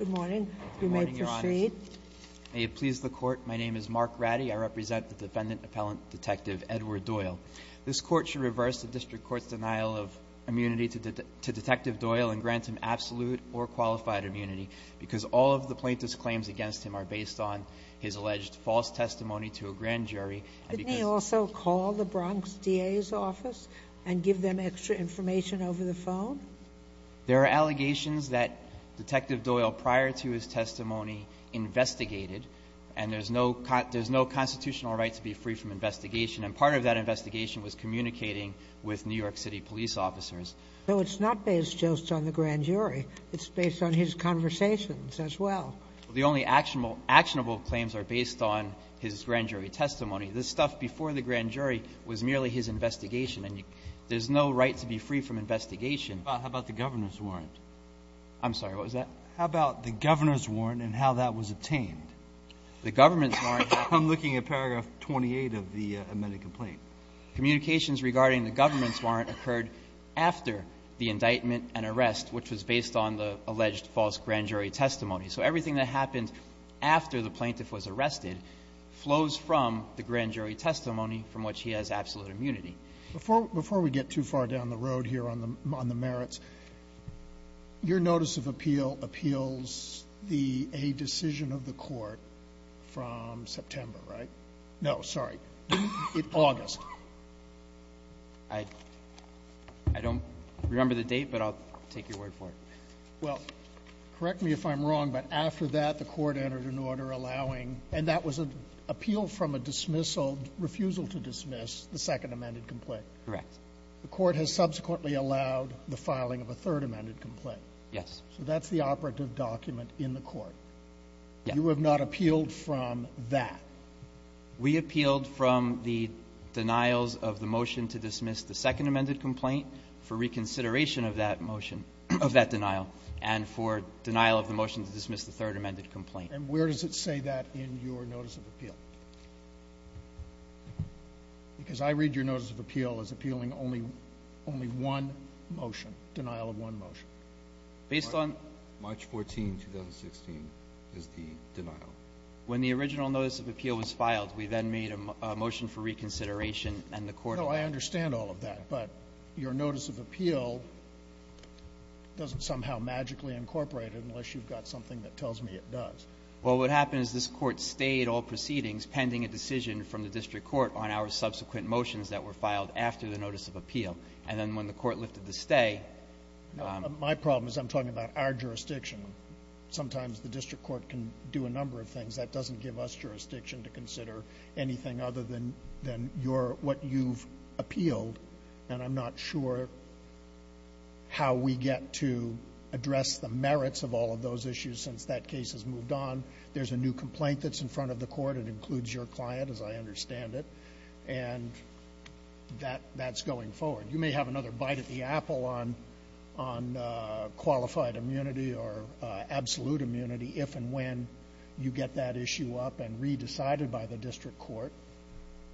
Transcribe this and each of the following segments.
Good morning, you may proceed. May it please the court, my name is Mark Ratty. I represent the defendant appellant detective Edward Doyle. This court should reverse the district court's denial of immunity to detective Doyle and grant him absolute or qualified immunity because all of the plaintiff's claims against him are based on his alleged false testimony to a grand jury. Didn't he also call the Bronx DA's office and give them extra information over the phone? There are allegations that detective Doyle prior to his testimony investigated and there's no constitutional right to be free from investigation and part of that investigation was communicating with New York City police officers. So it's not based just on the grand jury, it's based on his conversations as well. The only actionable claims are based on his grand jury testimony. This stuff before the grand jury was merely his How about the governor's warrant? I'm sorry, what was that? How about the governor's warrant and how that was obtained? The government's warrant? I'm looking at paragraph 28 of the amended complaint. Communications regarding the government's warrant occurred after the indictment and arrest, which was based on the alleged false grand jury testimony. So everything that happened after the plaintiff was arrested flows from the grand jury testimony from which he has absolute immunity. Before we get too far down the road here on the merits, your notice of appeal appeals the a decision of the court from September, right? No, sorry. It August. I don't remember the date, but I'll take your word for it. Well, correct me if I'm wrong, but after that the court entered an order allowing and that was an appeal from a dismissal refusal to dismiss the second amended complaint. Correct. The court has subsequently allowed the filing of a third amended complaint. Yes. So that's the operative document in the court. You have not appealed from that. We appealed from the denials of the motion to dismiss the second amended complaint for reconsideration of that motion of that denial and for denial of the motion to dismiss the third amendment of the notice of appeal. Because I read your notice of appeal as appealing only, only one motion, denial of one motion. Based on March 14, 2016, is the denial. When the original notice of appeal was filed, we then made a motion for reconsideration and the court. No, I understand all of that, but your notice of appeal doesn't somehow magically incorporate it unless you've got something that tells me it does. Well, what happened is this court stayed all proceedings pending a decision from the district court on our subsequent motions that were filed after the notice of appeal. And then when the court lifted the stay. My problem is I'm talking about our jurisdiction. Sometimes the district court can do a number of things that doesn't give us jurisdiction to consider anything other than than your what you've appealed. And I'm not sure how we get to address the merits of all of those issues. Since that case has moved on, there's a new complaint that's in front of the court. It includes your client, as I understand it, and that that's going forward. You may have another bite at the apple on on qualified immunity or absolute immunity if and when you get that issue up and re decided by the district court.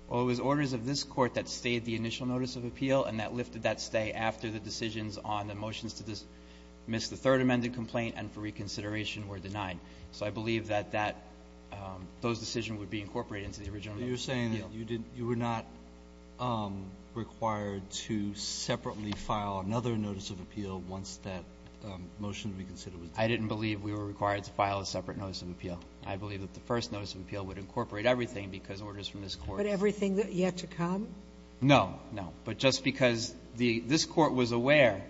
Well, it was orders of this court that stayed the initial notice of appeal and that lifted that stay after the decisions on the motions to dismiss the third amended complaint and for reconsideration were denied. So I believe that that those decision would be incorporated into the original. You're saying that you did you were not required to separately file another notice of appeal once that motion reconsidered. I didn't believe we were required to file a separate notice of appeal. I believe that the first notice of appeal would incorporate everything because orders from this court. But everything that yet to come? No, no. But just because the this court was aware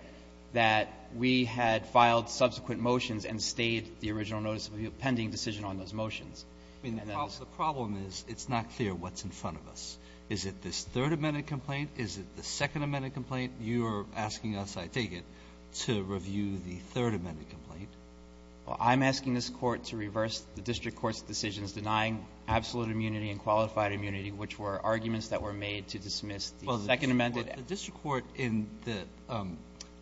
that we had filed subsequent motions and stayed the original notice of pending decision on those motions. I mean, the problem is it's not clear what's in front of us. Is it this third amended complaint? Is it the second amended complaint? You're asking us, I take it, to review the third amended complaint. Well, I'm asking this court to reverse the district court's decisions denying absolute immunity and qualified immunity, which were arguments that were made to dismiss the second amended. The district court in the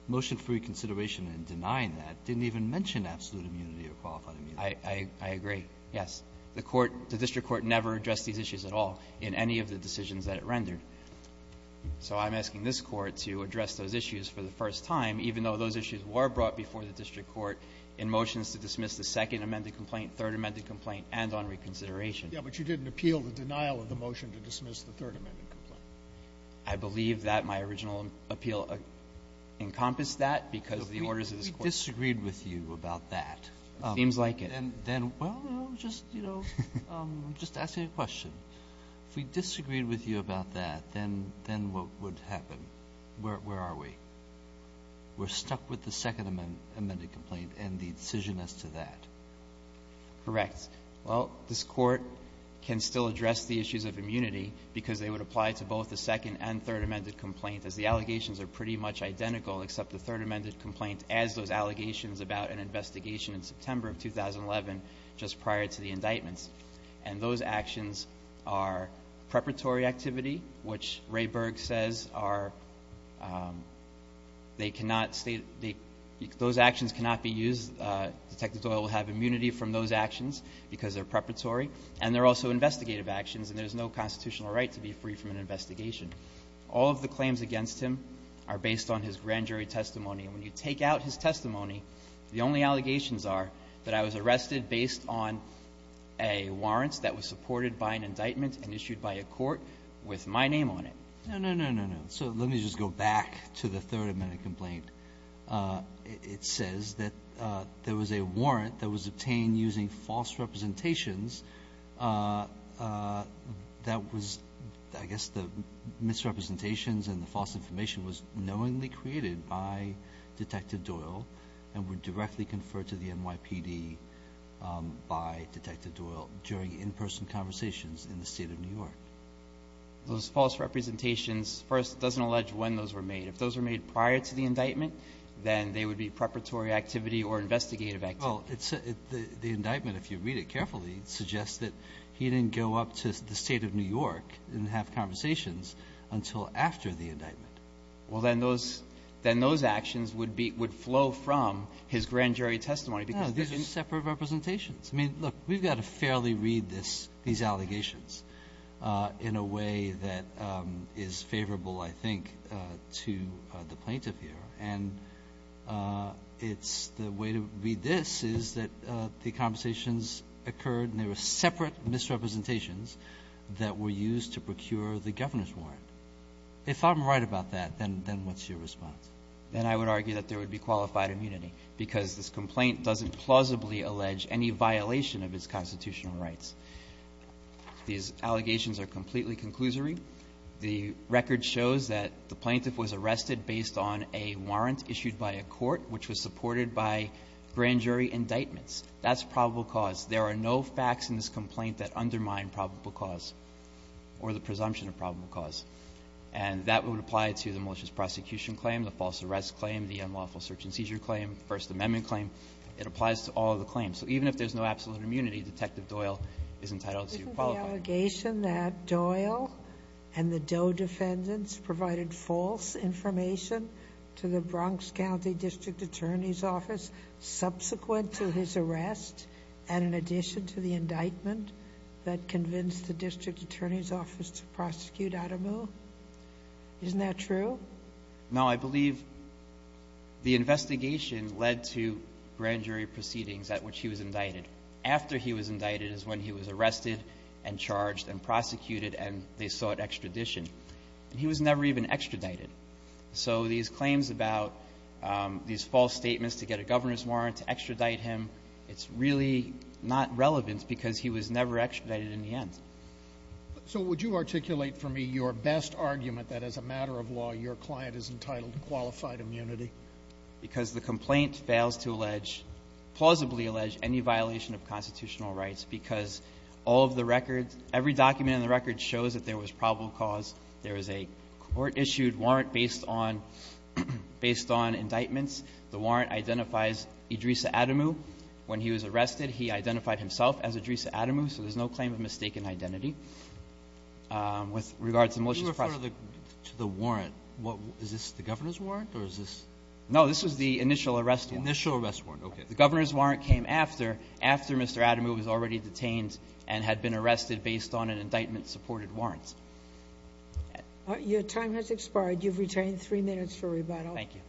motion for reconsideration and denying that didn't even mention absolute immunity or qualified immunity. I agree. Yes. The court, the district court never addressed these issues at all in any of the decisions that it rendered. So I'm asking this court to address those issues for the first time, even though those issues were brought before the district court in motions to dismiss the second amended complaint, third amended complaint and on reconsideration. But you didn't appeal the denial of the motion to dismiss the third amended complaint. I believe that my original appeal encompassed that, because the orders of this court We disagreed with you about that. Seems like it. Then, well, just, you know, just asking a question. If we disagreed with you about that, then what would happen? Where are we? We're stuck with the second amended complaint and the decision as to that. Correct. Well, this court can still address the issues of immunity because they would apply to both the second and third amended complaint as the allegations are pretty much identical, except the third amended complaint as those allegations about an investigation in September of 2011, just prior to the indictments. And those actions are preparatory activity, which Ray Berg says are they cannot state those actions cannot be used. Detective Doyle will have immunity from those actions because they're preparatory and they're also investigative actions and there's no constitutional right to be free from an investigation. All of the claims against him are based on his grand jury testimony. And when you take out his testimony, the only allegations are that I was arrested based on a warrants that was supported by an indictment and issued by a court with my name on it. No, no, no, no, no. So let me just go back to the third amended complaint. It says that there was a warrant that was obtained using false representations. That was, I guess, the misrepresentations and the false information was knowingly created by Detective Doyle and were directly conferred to the NYPD by Detective Doyle during in-person conversations in the state of New York. Those false representations, first, it doesn't allege when those were made. If those were made prior to the indictment, then they would be preparatory activity or investigative activity. Well, the indictment, if you read it carefully, suggests that he didn't go up to the state of New York and have conversations until after the indictment. Well, then those actions would flow from his grand jury testimony because they're separate representations. I mean, look, we've got to fairly read these allegations in a way that is favorable, I think, to the plaintiff here. And it's the way to read this is that the conversations occurred and they were separate misrepresentations that were used to procure the governor's warrant. If I'm right about that, then what's your response? Then I would argue that there would be qualified immunity because this complaint doesn't plausibly allege any violation of its constitutional rights. These allegations are completely conclusory. The record shows that the plaintiff was arrested based on a warrant issued by a court which was supported by grand jury indictments. That's probable cause. There are no facts in this complaint that undermine probable cause or the presumption of probable cause. And that would apply to the malicious prosecution claim, the false arrest claim, the unlawful search and seizure claim, the First Amendment claim. It applies to all of the claims. So even if there's no absolute immunity, Detective Doyle is entitled to qualify. The allegation that Doyle and the Doe defendants provided false information to the Bronx County District Attorney's Office subsequent to his arrest and in addition to the indictment that convinced the District Attorney's Office to prosecute Adamu, isn't that true? No, I believe the investigation led to grand jury proceedings at which he was indicted. After he was indicted is when he was arrested and charged and prosecuted and they sought extradition. He was never even extradited. So these claims about these false statements to get a governor's warrant to extradite him, it's really not relevant because he was never extradited in the end. So would you articulate for me your best argument that as a matter of law your client is entitled to qualified immunity? Because the complaint fails to allege, plausibly allege, any violation of constitutional rights because all of the records, every document in the record shows that there was probable cause, there is a court-issued warrant based on, based on indictments. The warrant identifies Idrissa Adamu. When he was arrested, he identified himself as Idrissa Adamu, so there's no claim of mistaken identity. With regards to the militia's process. To the warrant, what, is this the governor's warrant or is this? No, this is the initial arrest warrant. Initial arrest warrant, okay. The governor's warrant came after, after Mr. Adamu was already detained and had been arrested based on an indictment supported warrant. Your time has expired. You've retained three minutes for rebuttal. Thank you.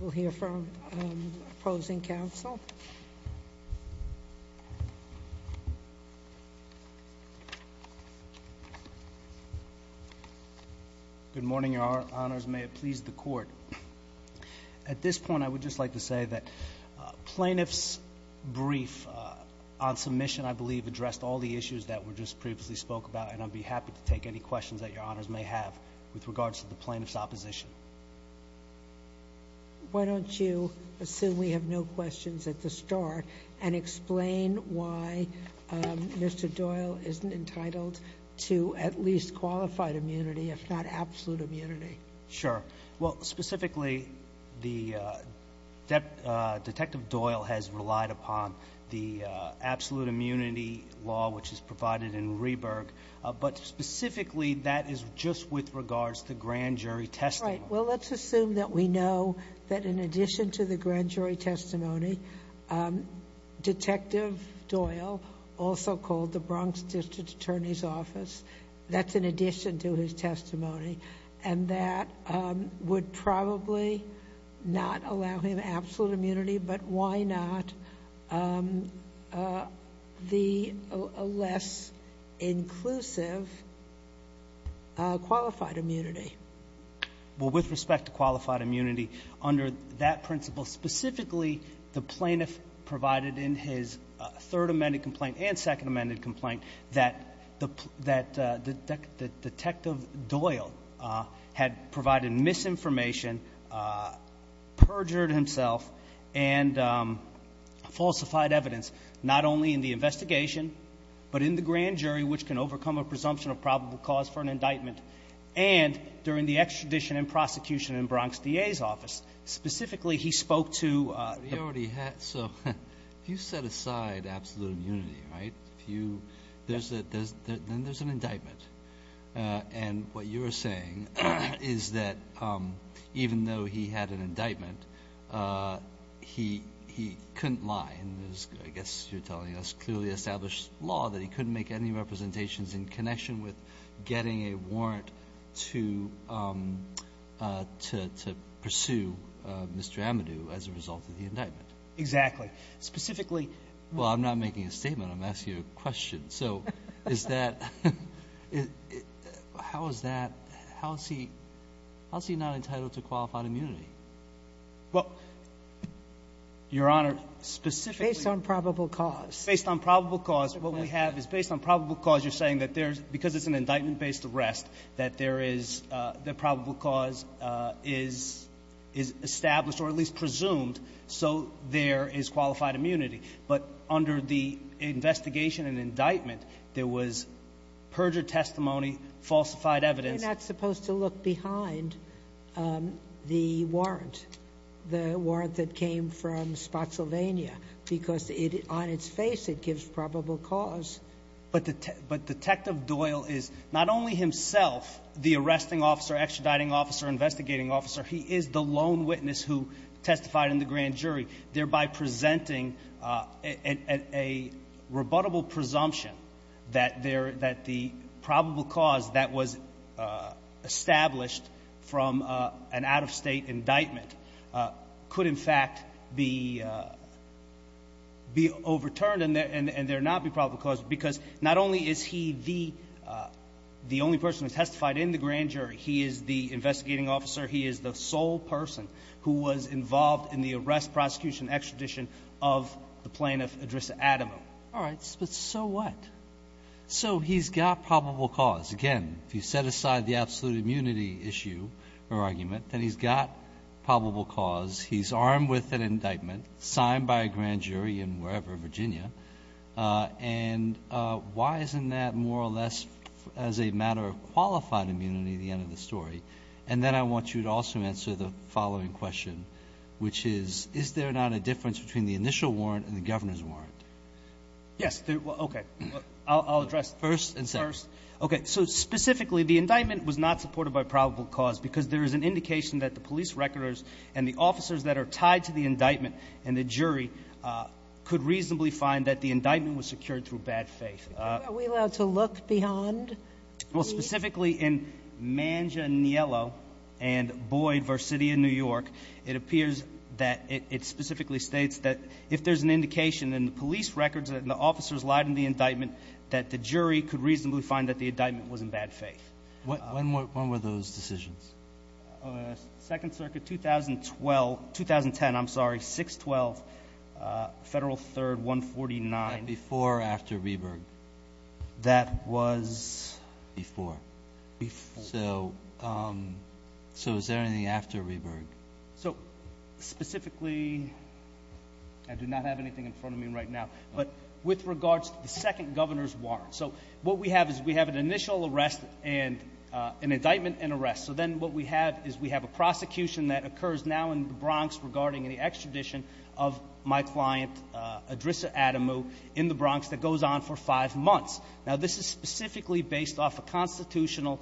We'll hear from opposing counsel. Good morning, your honors. May it please the court. At this point, I would just like to say that plaintiff's brief on submission, I believe, addressed all the issues that were just previously spoke about and I'd be happy to take any questions that your honors may have with regards to the plaintiff's opposition. Why don't you assume we have no questions at the start and explain why Mr. Doyle isn't entitled to at least qualified immunity, if not absolute immunity? Sure. Well, specifically, the, Detective Doyle has relied upon the absolute immunity law, which is provided in Rieberg, but specifically, that is just with regards to grand jury testing. Right. Well, let's assume that we know that in addition to the grand jury testimony, Detective Doyle, also called the Bronx District Attorney's Office, that's in addition to his testimony, and that would probably not allow him absolute immunity, but why not the less inclusive qualified immunity? Well, with respect to qualified immunity, under that principle, specifically, the plaintiff provided in his third amended complaint and second amended complaint that Detective Doyle had provided misinformation, perjured himself, and falsified evidence, not only in the investigation, but in the grand jury, which can overcome a presumption of probable cause for an indictment, and during the extradition and prosecution in Bronx D.A.'s office. Specifically, he spoke to- So, if you set aside absolute immunity, right, then there's an indictment, and what you're saying is that even though he had an indictment, he couldn't lie, and I guess you're telling us clearly established law that he couldn't make any representations in connection with Exactly. Specifically- Well, I'm not making a statement. I'm asking you a question. So, is that, how is that, how is he not entitled to qualified immunity? Well, Your Honor, specifically- Based on probable cause. Based on probable cause, what we have is based on probable cause, you're saying that there's, because it's an indictment-based arrest, that there is, that probable cause is established, or at least presumed, so there is qualified immunity. But under the investigation and indictment, there was perjured testimony, falsified evidence- You're not supposed to look behind the warrant, the warrant that came from Spotsylvania, because on its face, it gives probable cause. But Detective Doyle is not only himself the arresting officer, extraditing officer, investigating officer, he is the lone witness who testified in the grand jury, thereby presenting a rebuttable presumption that the probable cause that was established from an out-of-state indictment could, in fact, be overturned and there not be probable cause, because not only is he the only person who testified in the grand jury, he is the investigating officer, he is the sole person who was involved in the arrest, prosecution, extradition of the plaintiff, Idrissa Adamo. All right, but so what? So he's got probable cause. Again, if you set aside the absolute immunity issue or argument, then he's got probable cause. He's armed with an indictment signed by a grand jury in wherever, Virginia, and why isn't that more or less as a matter of qualified immunity at the end of the story? And then I want you to also answer the following question, which is, is there not a difference between the initial warrant and the governor's warrant? Yes. Okay. I'll address- First and second. First. Okay. So specifically, the indictment was not supported by probable cause because there is an indication that the police recorders and the officers that are jury could reasonably find that the indictment was secured through bad faith. Are we allowed to look beyond the- Well, specifically in Manganiello and Boyd v. City of New York, it appears that it specifically states that if there's an indication in the police records that the officers lied in the indictment, that the jury could reasonably find that the indictment was in bad faith. When were those decisions? On the Second Circuit, 2012, 2010, I'm sorry, 6-12, Federal 3rd, 149. That before or after Rehberg? That was- Before. So is there anything after Rehberg? So specifically, I do not have anything in front of me right now, but with regards to the second governor's warrant. So what we have is we have an initial arrest and an indictment and arrest. So then what we have is we have a prosecution that occurs now in the Bronx regarding the extradition of my client Adrissa Adamu in the Bronx that goes on for five months. Now, this is specifically based off a constitutional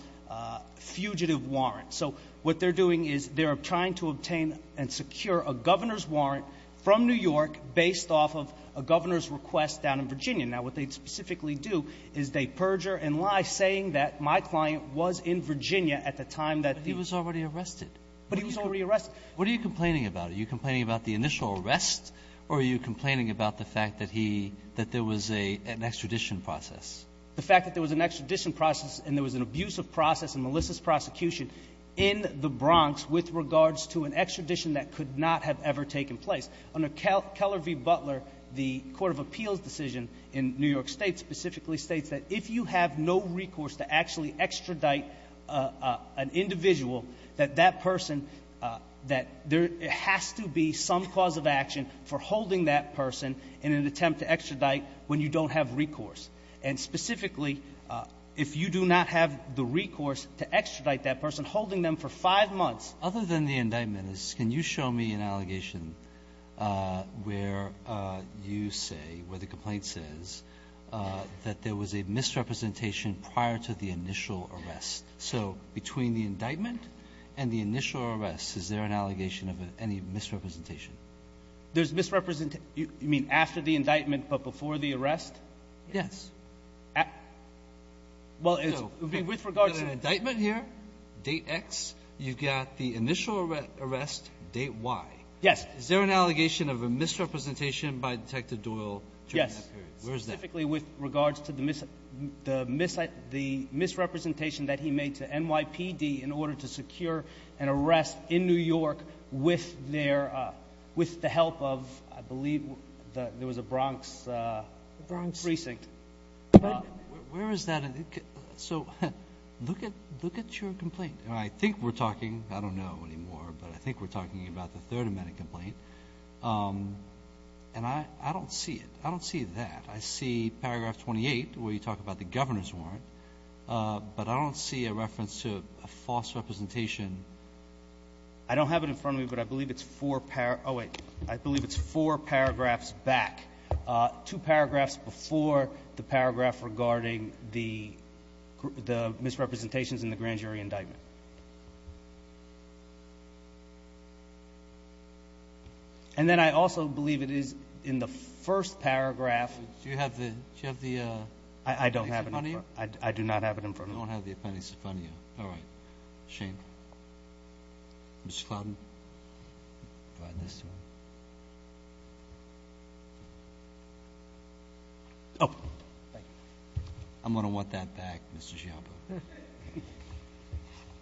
fugitive warrant. So what they're doing is they're trying to obtain and secure a governor's warrant from New York based off of a governor's request down in Virginia. Now, what they specifically do is they perjure and lie, saying that my client was in Virginia at the time that- But he was already arrested. But he was already arrested. What are you complaining about? Are you complaining about the initial arrest, or are you complaining about the fact that he – that there was an extradition process? The fact that there was an extradition process and there was an abusive process in Melissa's prosecution in the Bronx with regards to an extradition that could not have ever taken place. Under Keller v. Butler, the Court of Appeals decision in New York State specifically states that if you have no recourse to actually extradite an individual, that that person – that there has to be some cause of action for holding that person in an attempt to extradite when you don't have recourse. And specifically, if you do not have the recourse to extradite that person, holding them for five months- I have an allegation where you say – where the complaint says that there was a misrepresentation prior to the initial arrest. So between the indictment and the initial arrest, is there an allegation of any misrepresentation? There's misrepresentation – you mean after the indictment, but before the arrest? Yes. Well, it's – with regards to the indictment here, date X, you've got the initial arrest, date Y. Yes. Is there an allegation of a misrepresentation by Detective Doyle during that period? Specifically with regards to the misrepresentation that he made to NYPD in order to secure an arrest in New York with their – with the help of, I believe, there was a Bronx precinct. Where is that? So look at your complaint. And I think we're talking – I don't know anymore, but I think we're talking about the Third Amendment complaint. And I don't see it. I don't see that. I see paragraph 28, where you talk about the governor's warrant. But I don't see a reference to a false representation. I don't have it in front of me, but I believe it's four – oh, wait. I believe it's four paragraphs back. Two paragraphs before the paragraph regarding the misrepresentations in the grand jury indictment. And then I also believe it is in the first paragraph – Do you have the – do you have the – I don't have it in front of me. I do not have it in front of me. You don't have the appendix in front of you. All right. Shame. Mr. Clowden, provide this to him. Oh, thank you. I'm going to want that back, Mr. Giambo.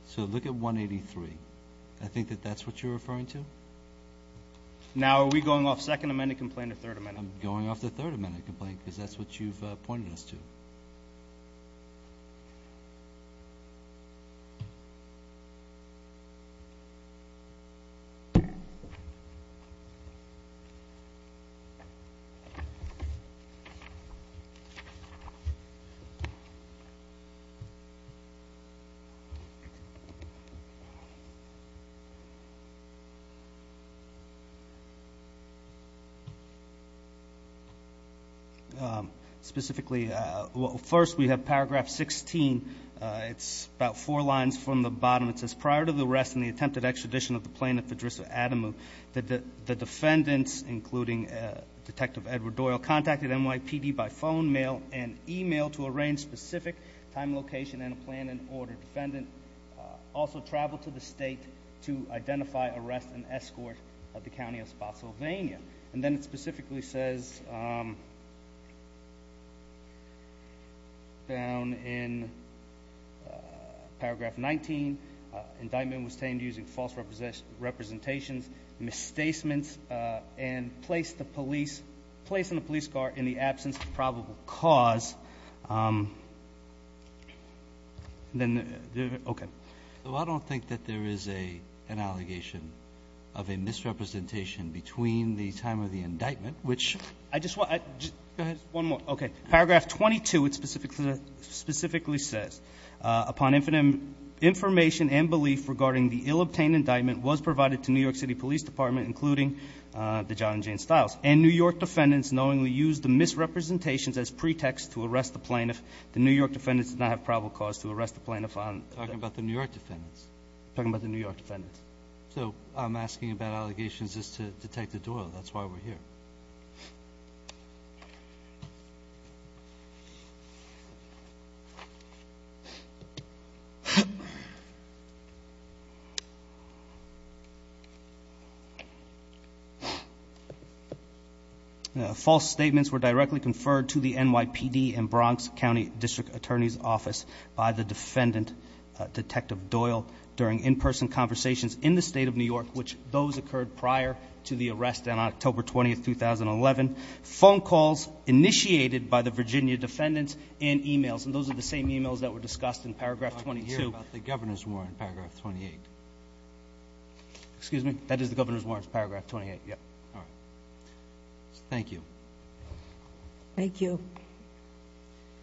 So look at 183. I think that that's what you're referring to? Now are we going off Second Amendment complaint or Third Amendment complaint? I'm going off the Third Amendment complaint, because that's what you've pointed us to. Okay. Specifically – well, first we have paragraph 16. It's about four lines from the bottom. It says, prior to the arrest and the attempted extradition of the plaintiff, Idrissa Adamu, that the defendants, including Detective Edward Doyle, contacted NYPD by phone, mail, and email to arrange specific time, location, and a plan and order. Defendant also traveled to the state to identify, arrest, and escort the County of Spotsylvania. And then it specifically says, down in paragraph 19, indictment was tamed using false representations, misstacements, and placing the police guard in the absence of probable cause. Okay. So I don't think that there is an allegation of a misrepresentation between the time of the indictment, which – I just want – Go ahead. One more. Okay. Paragraph 22, it specifically says, upon information and belief regarding the ill-obtained indictment was provided to the John and Jane Stiles. And New York defendants knowingly used the misrepresentations as pretext to arrest the plaintiff. The New York defendants did not have probable cause to arrest the plaintiff on – Talking about the New York defendants. Talking about the New York defendants. So I'm asking about allegations as to Detective Doyle. That's why we're here. Okay. False statements were directly conferred to the NYPD and Bronx County District Attorney's Office by the defendant, Detective Doyle, during in-person conversations in the state of New York, which those occurred prior to the arrest on October 20, 2011. Phone calls initiated by the Virginia defendants and emails. And those are the same emails that were discussed in paragraph 22. I hear about the governor's warrant, paragraph 28. Excuse me? That is the governor's warrant, paragraph 28. Thank you. Thank you.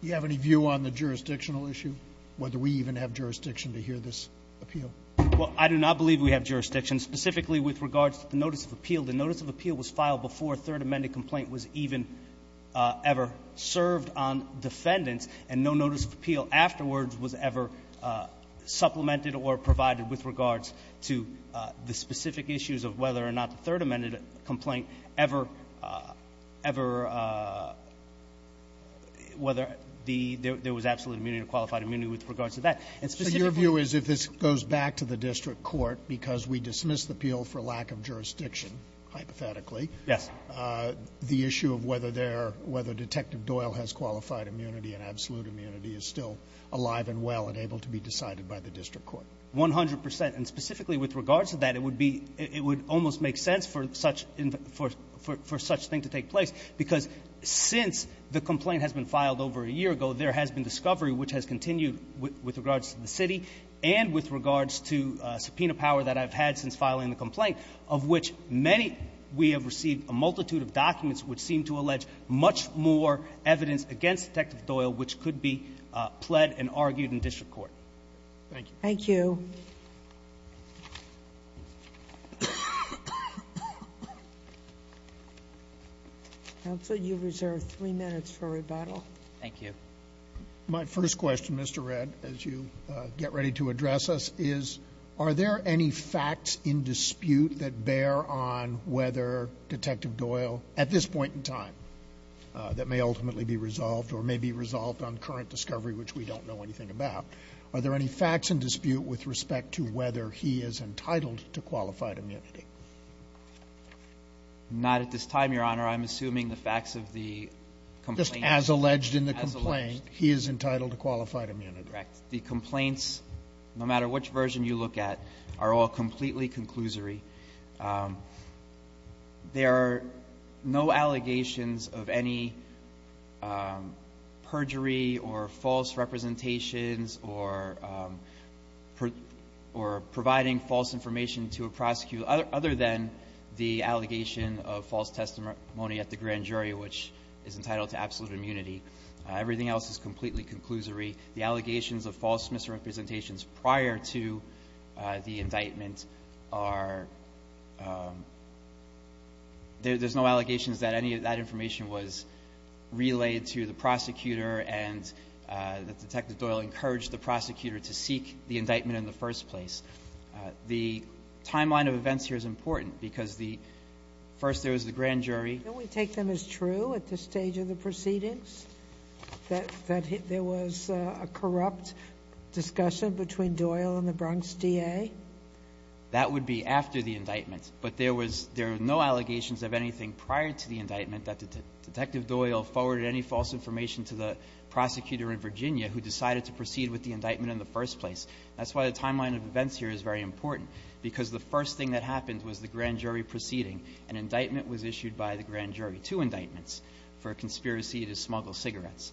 You have any view on the jurisdictional issue? Whether we even have jurisdiction to hear this appeal? Well, I do not believe we have jurisdiction, specifically with regards to the notice of appeal. The notice of appeal was filed before a third amended complaint was even ever served on defendants. And no notice of appeal afterwards was ever supplemented or provided with regards to the specific issues of whether or not the third amended complaint ever, ever, whether there was absolute immunity or qualified immunity with regards to that. And specifically — So your view is if this goes back to the district court, because we dismissed the appeal for lack of jurisdiction, hypothetically — Yes. — the issue of whether there — whether Detective Doyle has qualified immunity and absolute immunity is still alive and well and able to be decided by the district court. 100 percent. And specifically with regards to that, it would be — it would almost make sense for such — for such thing to take place, because since the complaint has been filed over a year ago, there has been discovery, which has continued with regards to the city and with regards to subpoena power that I've had since filing the complaint, of which many — we have received a multitude of documents which seem to allege much more evidence against Detective Doyle, which could be pled and argued in district court. Thank you. Thank you. Counsel, you reserve three minutes for rebuttal. Thank you. My first question, Mr. Redd, as you get ready to address us, is are there any facts in dispute that bear on whether Detective Doyle, at this point in time, that may ultimately be resolved or may be resolved on current discovery, which we don't know anything about, are there any facts in dispute with respect to whether he is entitled to qualified immunity? Not at this time, Your Honor. I'm assuming the facts of the complaint — Just as alleged in the complaint, he is entitled to qualified immunity. Correct. The complaints, no matter which version you look at, are all completely conclusory. There are no allegations of any perjury or false representations or providing false information to a prosecutor other than the allegation of false testimony at the grand jury, which is entitled to absolute immunity. Everything else is completely conclusory. The allegations of false misrepresentations prior to the indictment are completely false. There's no allegations that any of that information was relayed to the prosecutor and that Detective Doyle encouraged the prosecutor to seek the indictment in the first place. The timeline of events here is important because the — first, there was the grand jury — Don't we take them as true at this stage of the proceedings, that there was a corrupt discussion between Doyle and the Bronx DA? That would be after the indictment, but there were no allegations of anything prior to the indictment that Detective Doyle forwarded any false information to the prosecutor in Virginia who decided to proceed with the indictment in the first place. That's why the timeline of events here is very important, because the first thing that happened was the grand jury proceeding. An indictment was issued by the grand jury — two indictments — for a conspiracy to smuggle cigarettes.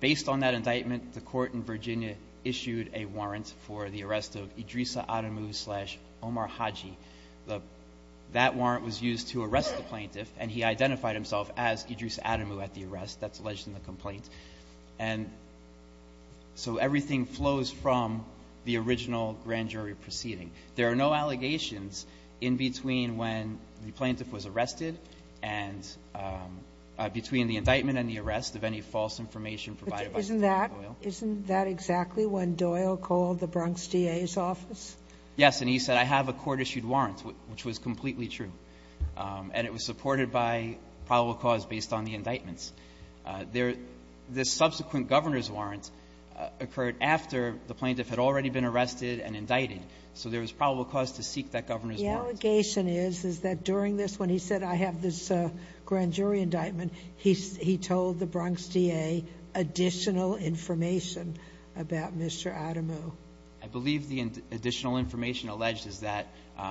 Based on that indictment, the court in Virginia issued a warrant for the arrest of Idrissa Adamu, slash, Omar Haji. That warrant was used to arrest the plaintiff, and he identified himself as Idrissa Adamu at the arrest. That's alleged in the complaint. And so everything flows from the original grand jury proceeding. There are no allegations in between when the plaintiff was arrested and between the indictment and the arrest of any false information provided by Detective Doyle. Isn't that exactly when Doyle called the Bronx DA's office? Yes, and he said, I have a court-issued warrant, which was completely true, and it was supported by probable cause based on the indictments. The subsequent governor's warrant occurred after the plaintiff had already been arrested and indicted, so there was probable cause to seek that governor's warrant. The allegation is, is that during this, when he said, I have this grand jury indictment, he told the Bronx DA additional information about Mr. Adamu. I believe the additional information alleged is that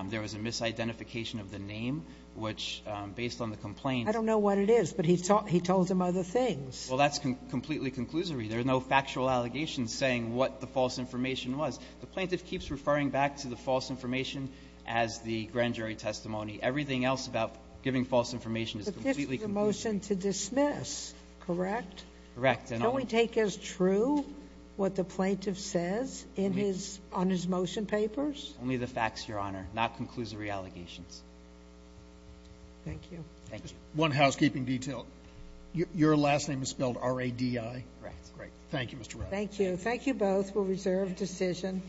there was a misidentification of the name, which, based on the complaint... I don't know what it is, but he told him other things. Well, that's completely conclusory. There are no factual allegations saying what the false information was. The plaintiff keeps referring back to the false information as the grand jury testimony. Everything else about giving false information is completely... The motion to dismiss, correct? Correct, Your Honor. Can we take as true what the plaintiff says on his motion papers? Only the facts, Your Honor. Not conclusory allegations. Thank you. Thank you. One housekeeping detail. Your last name is spelled R-A-D-I? Correct. Great. Thank you, Mr. Wright. Thank you. Thank you both. We'll reserve decision.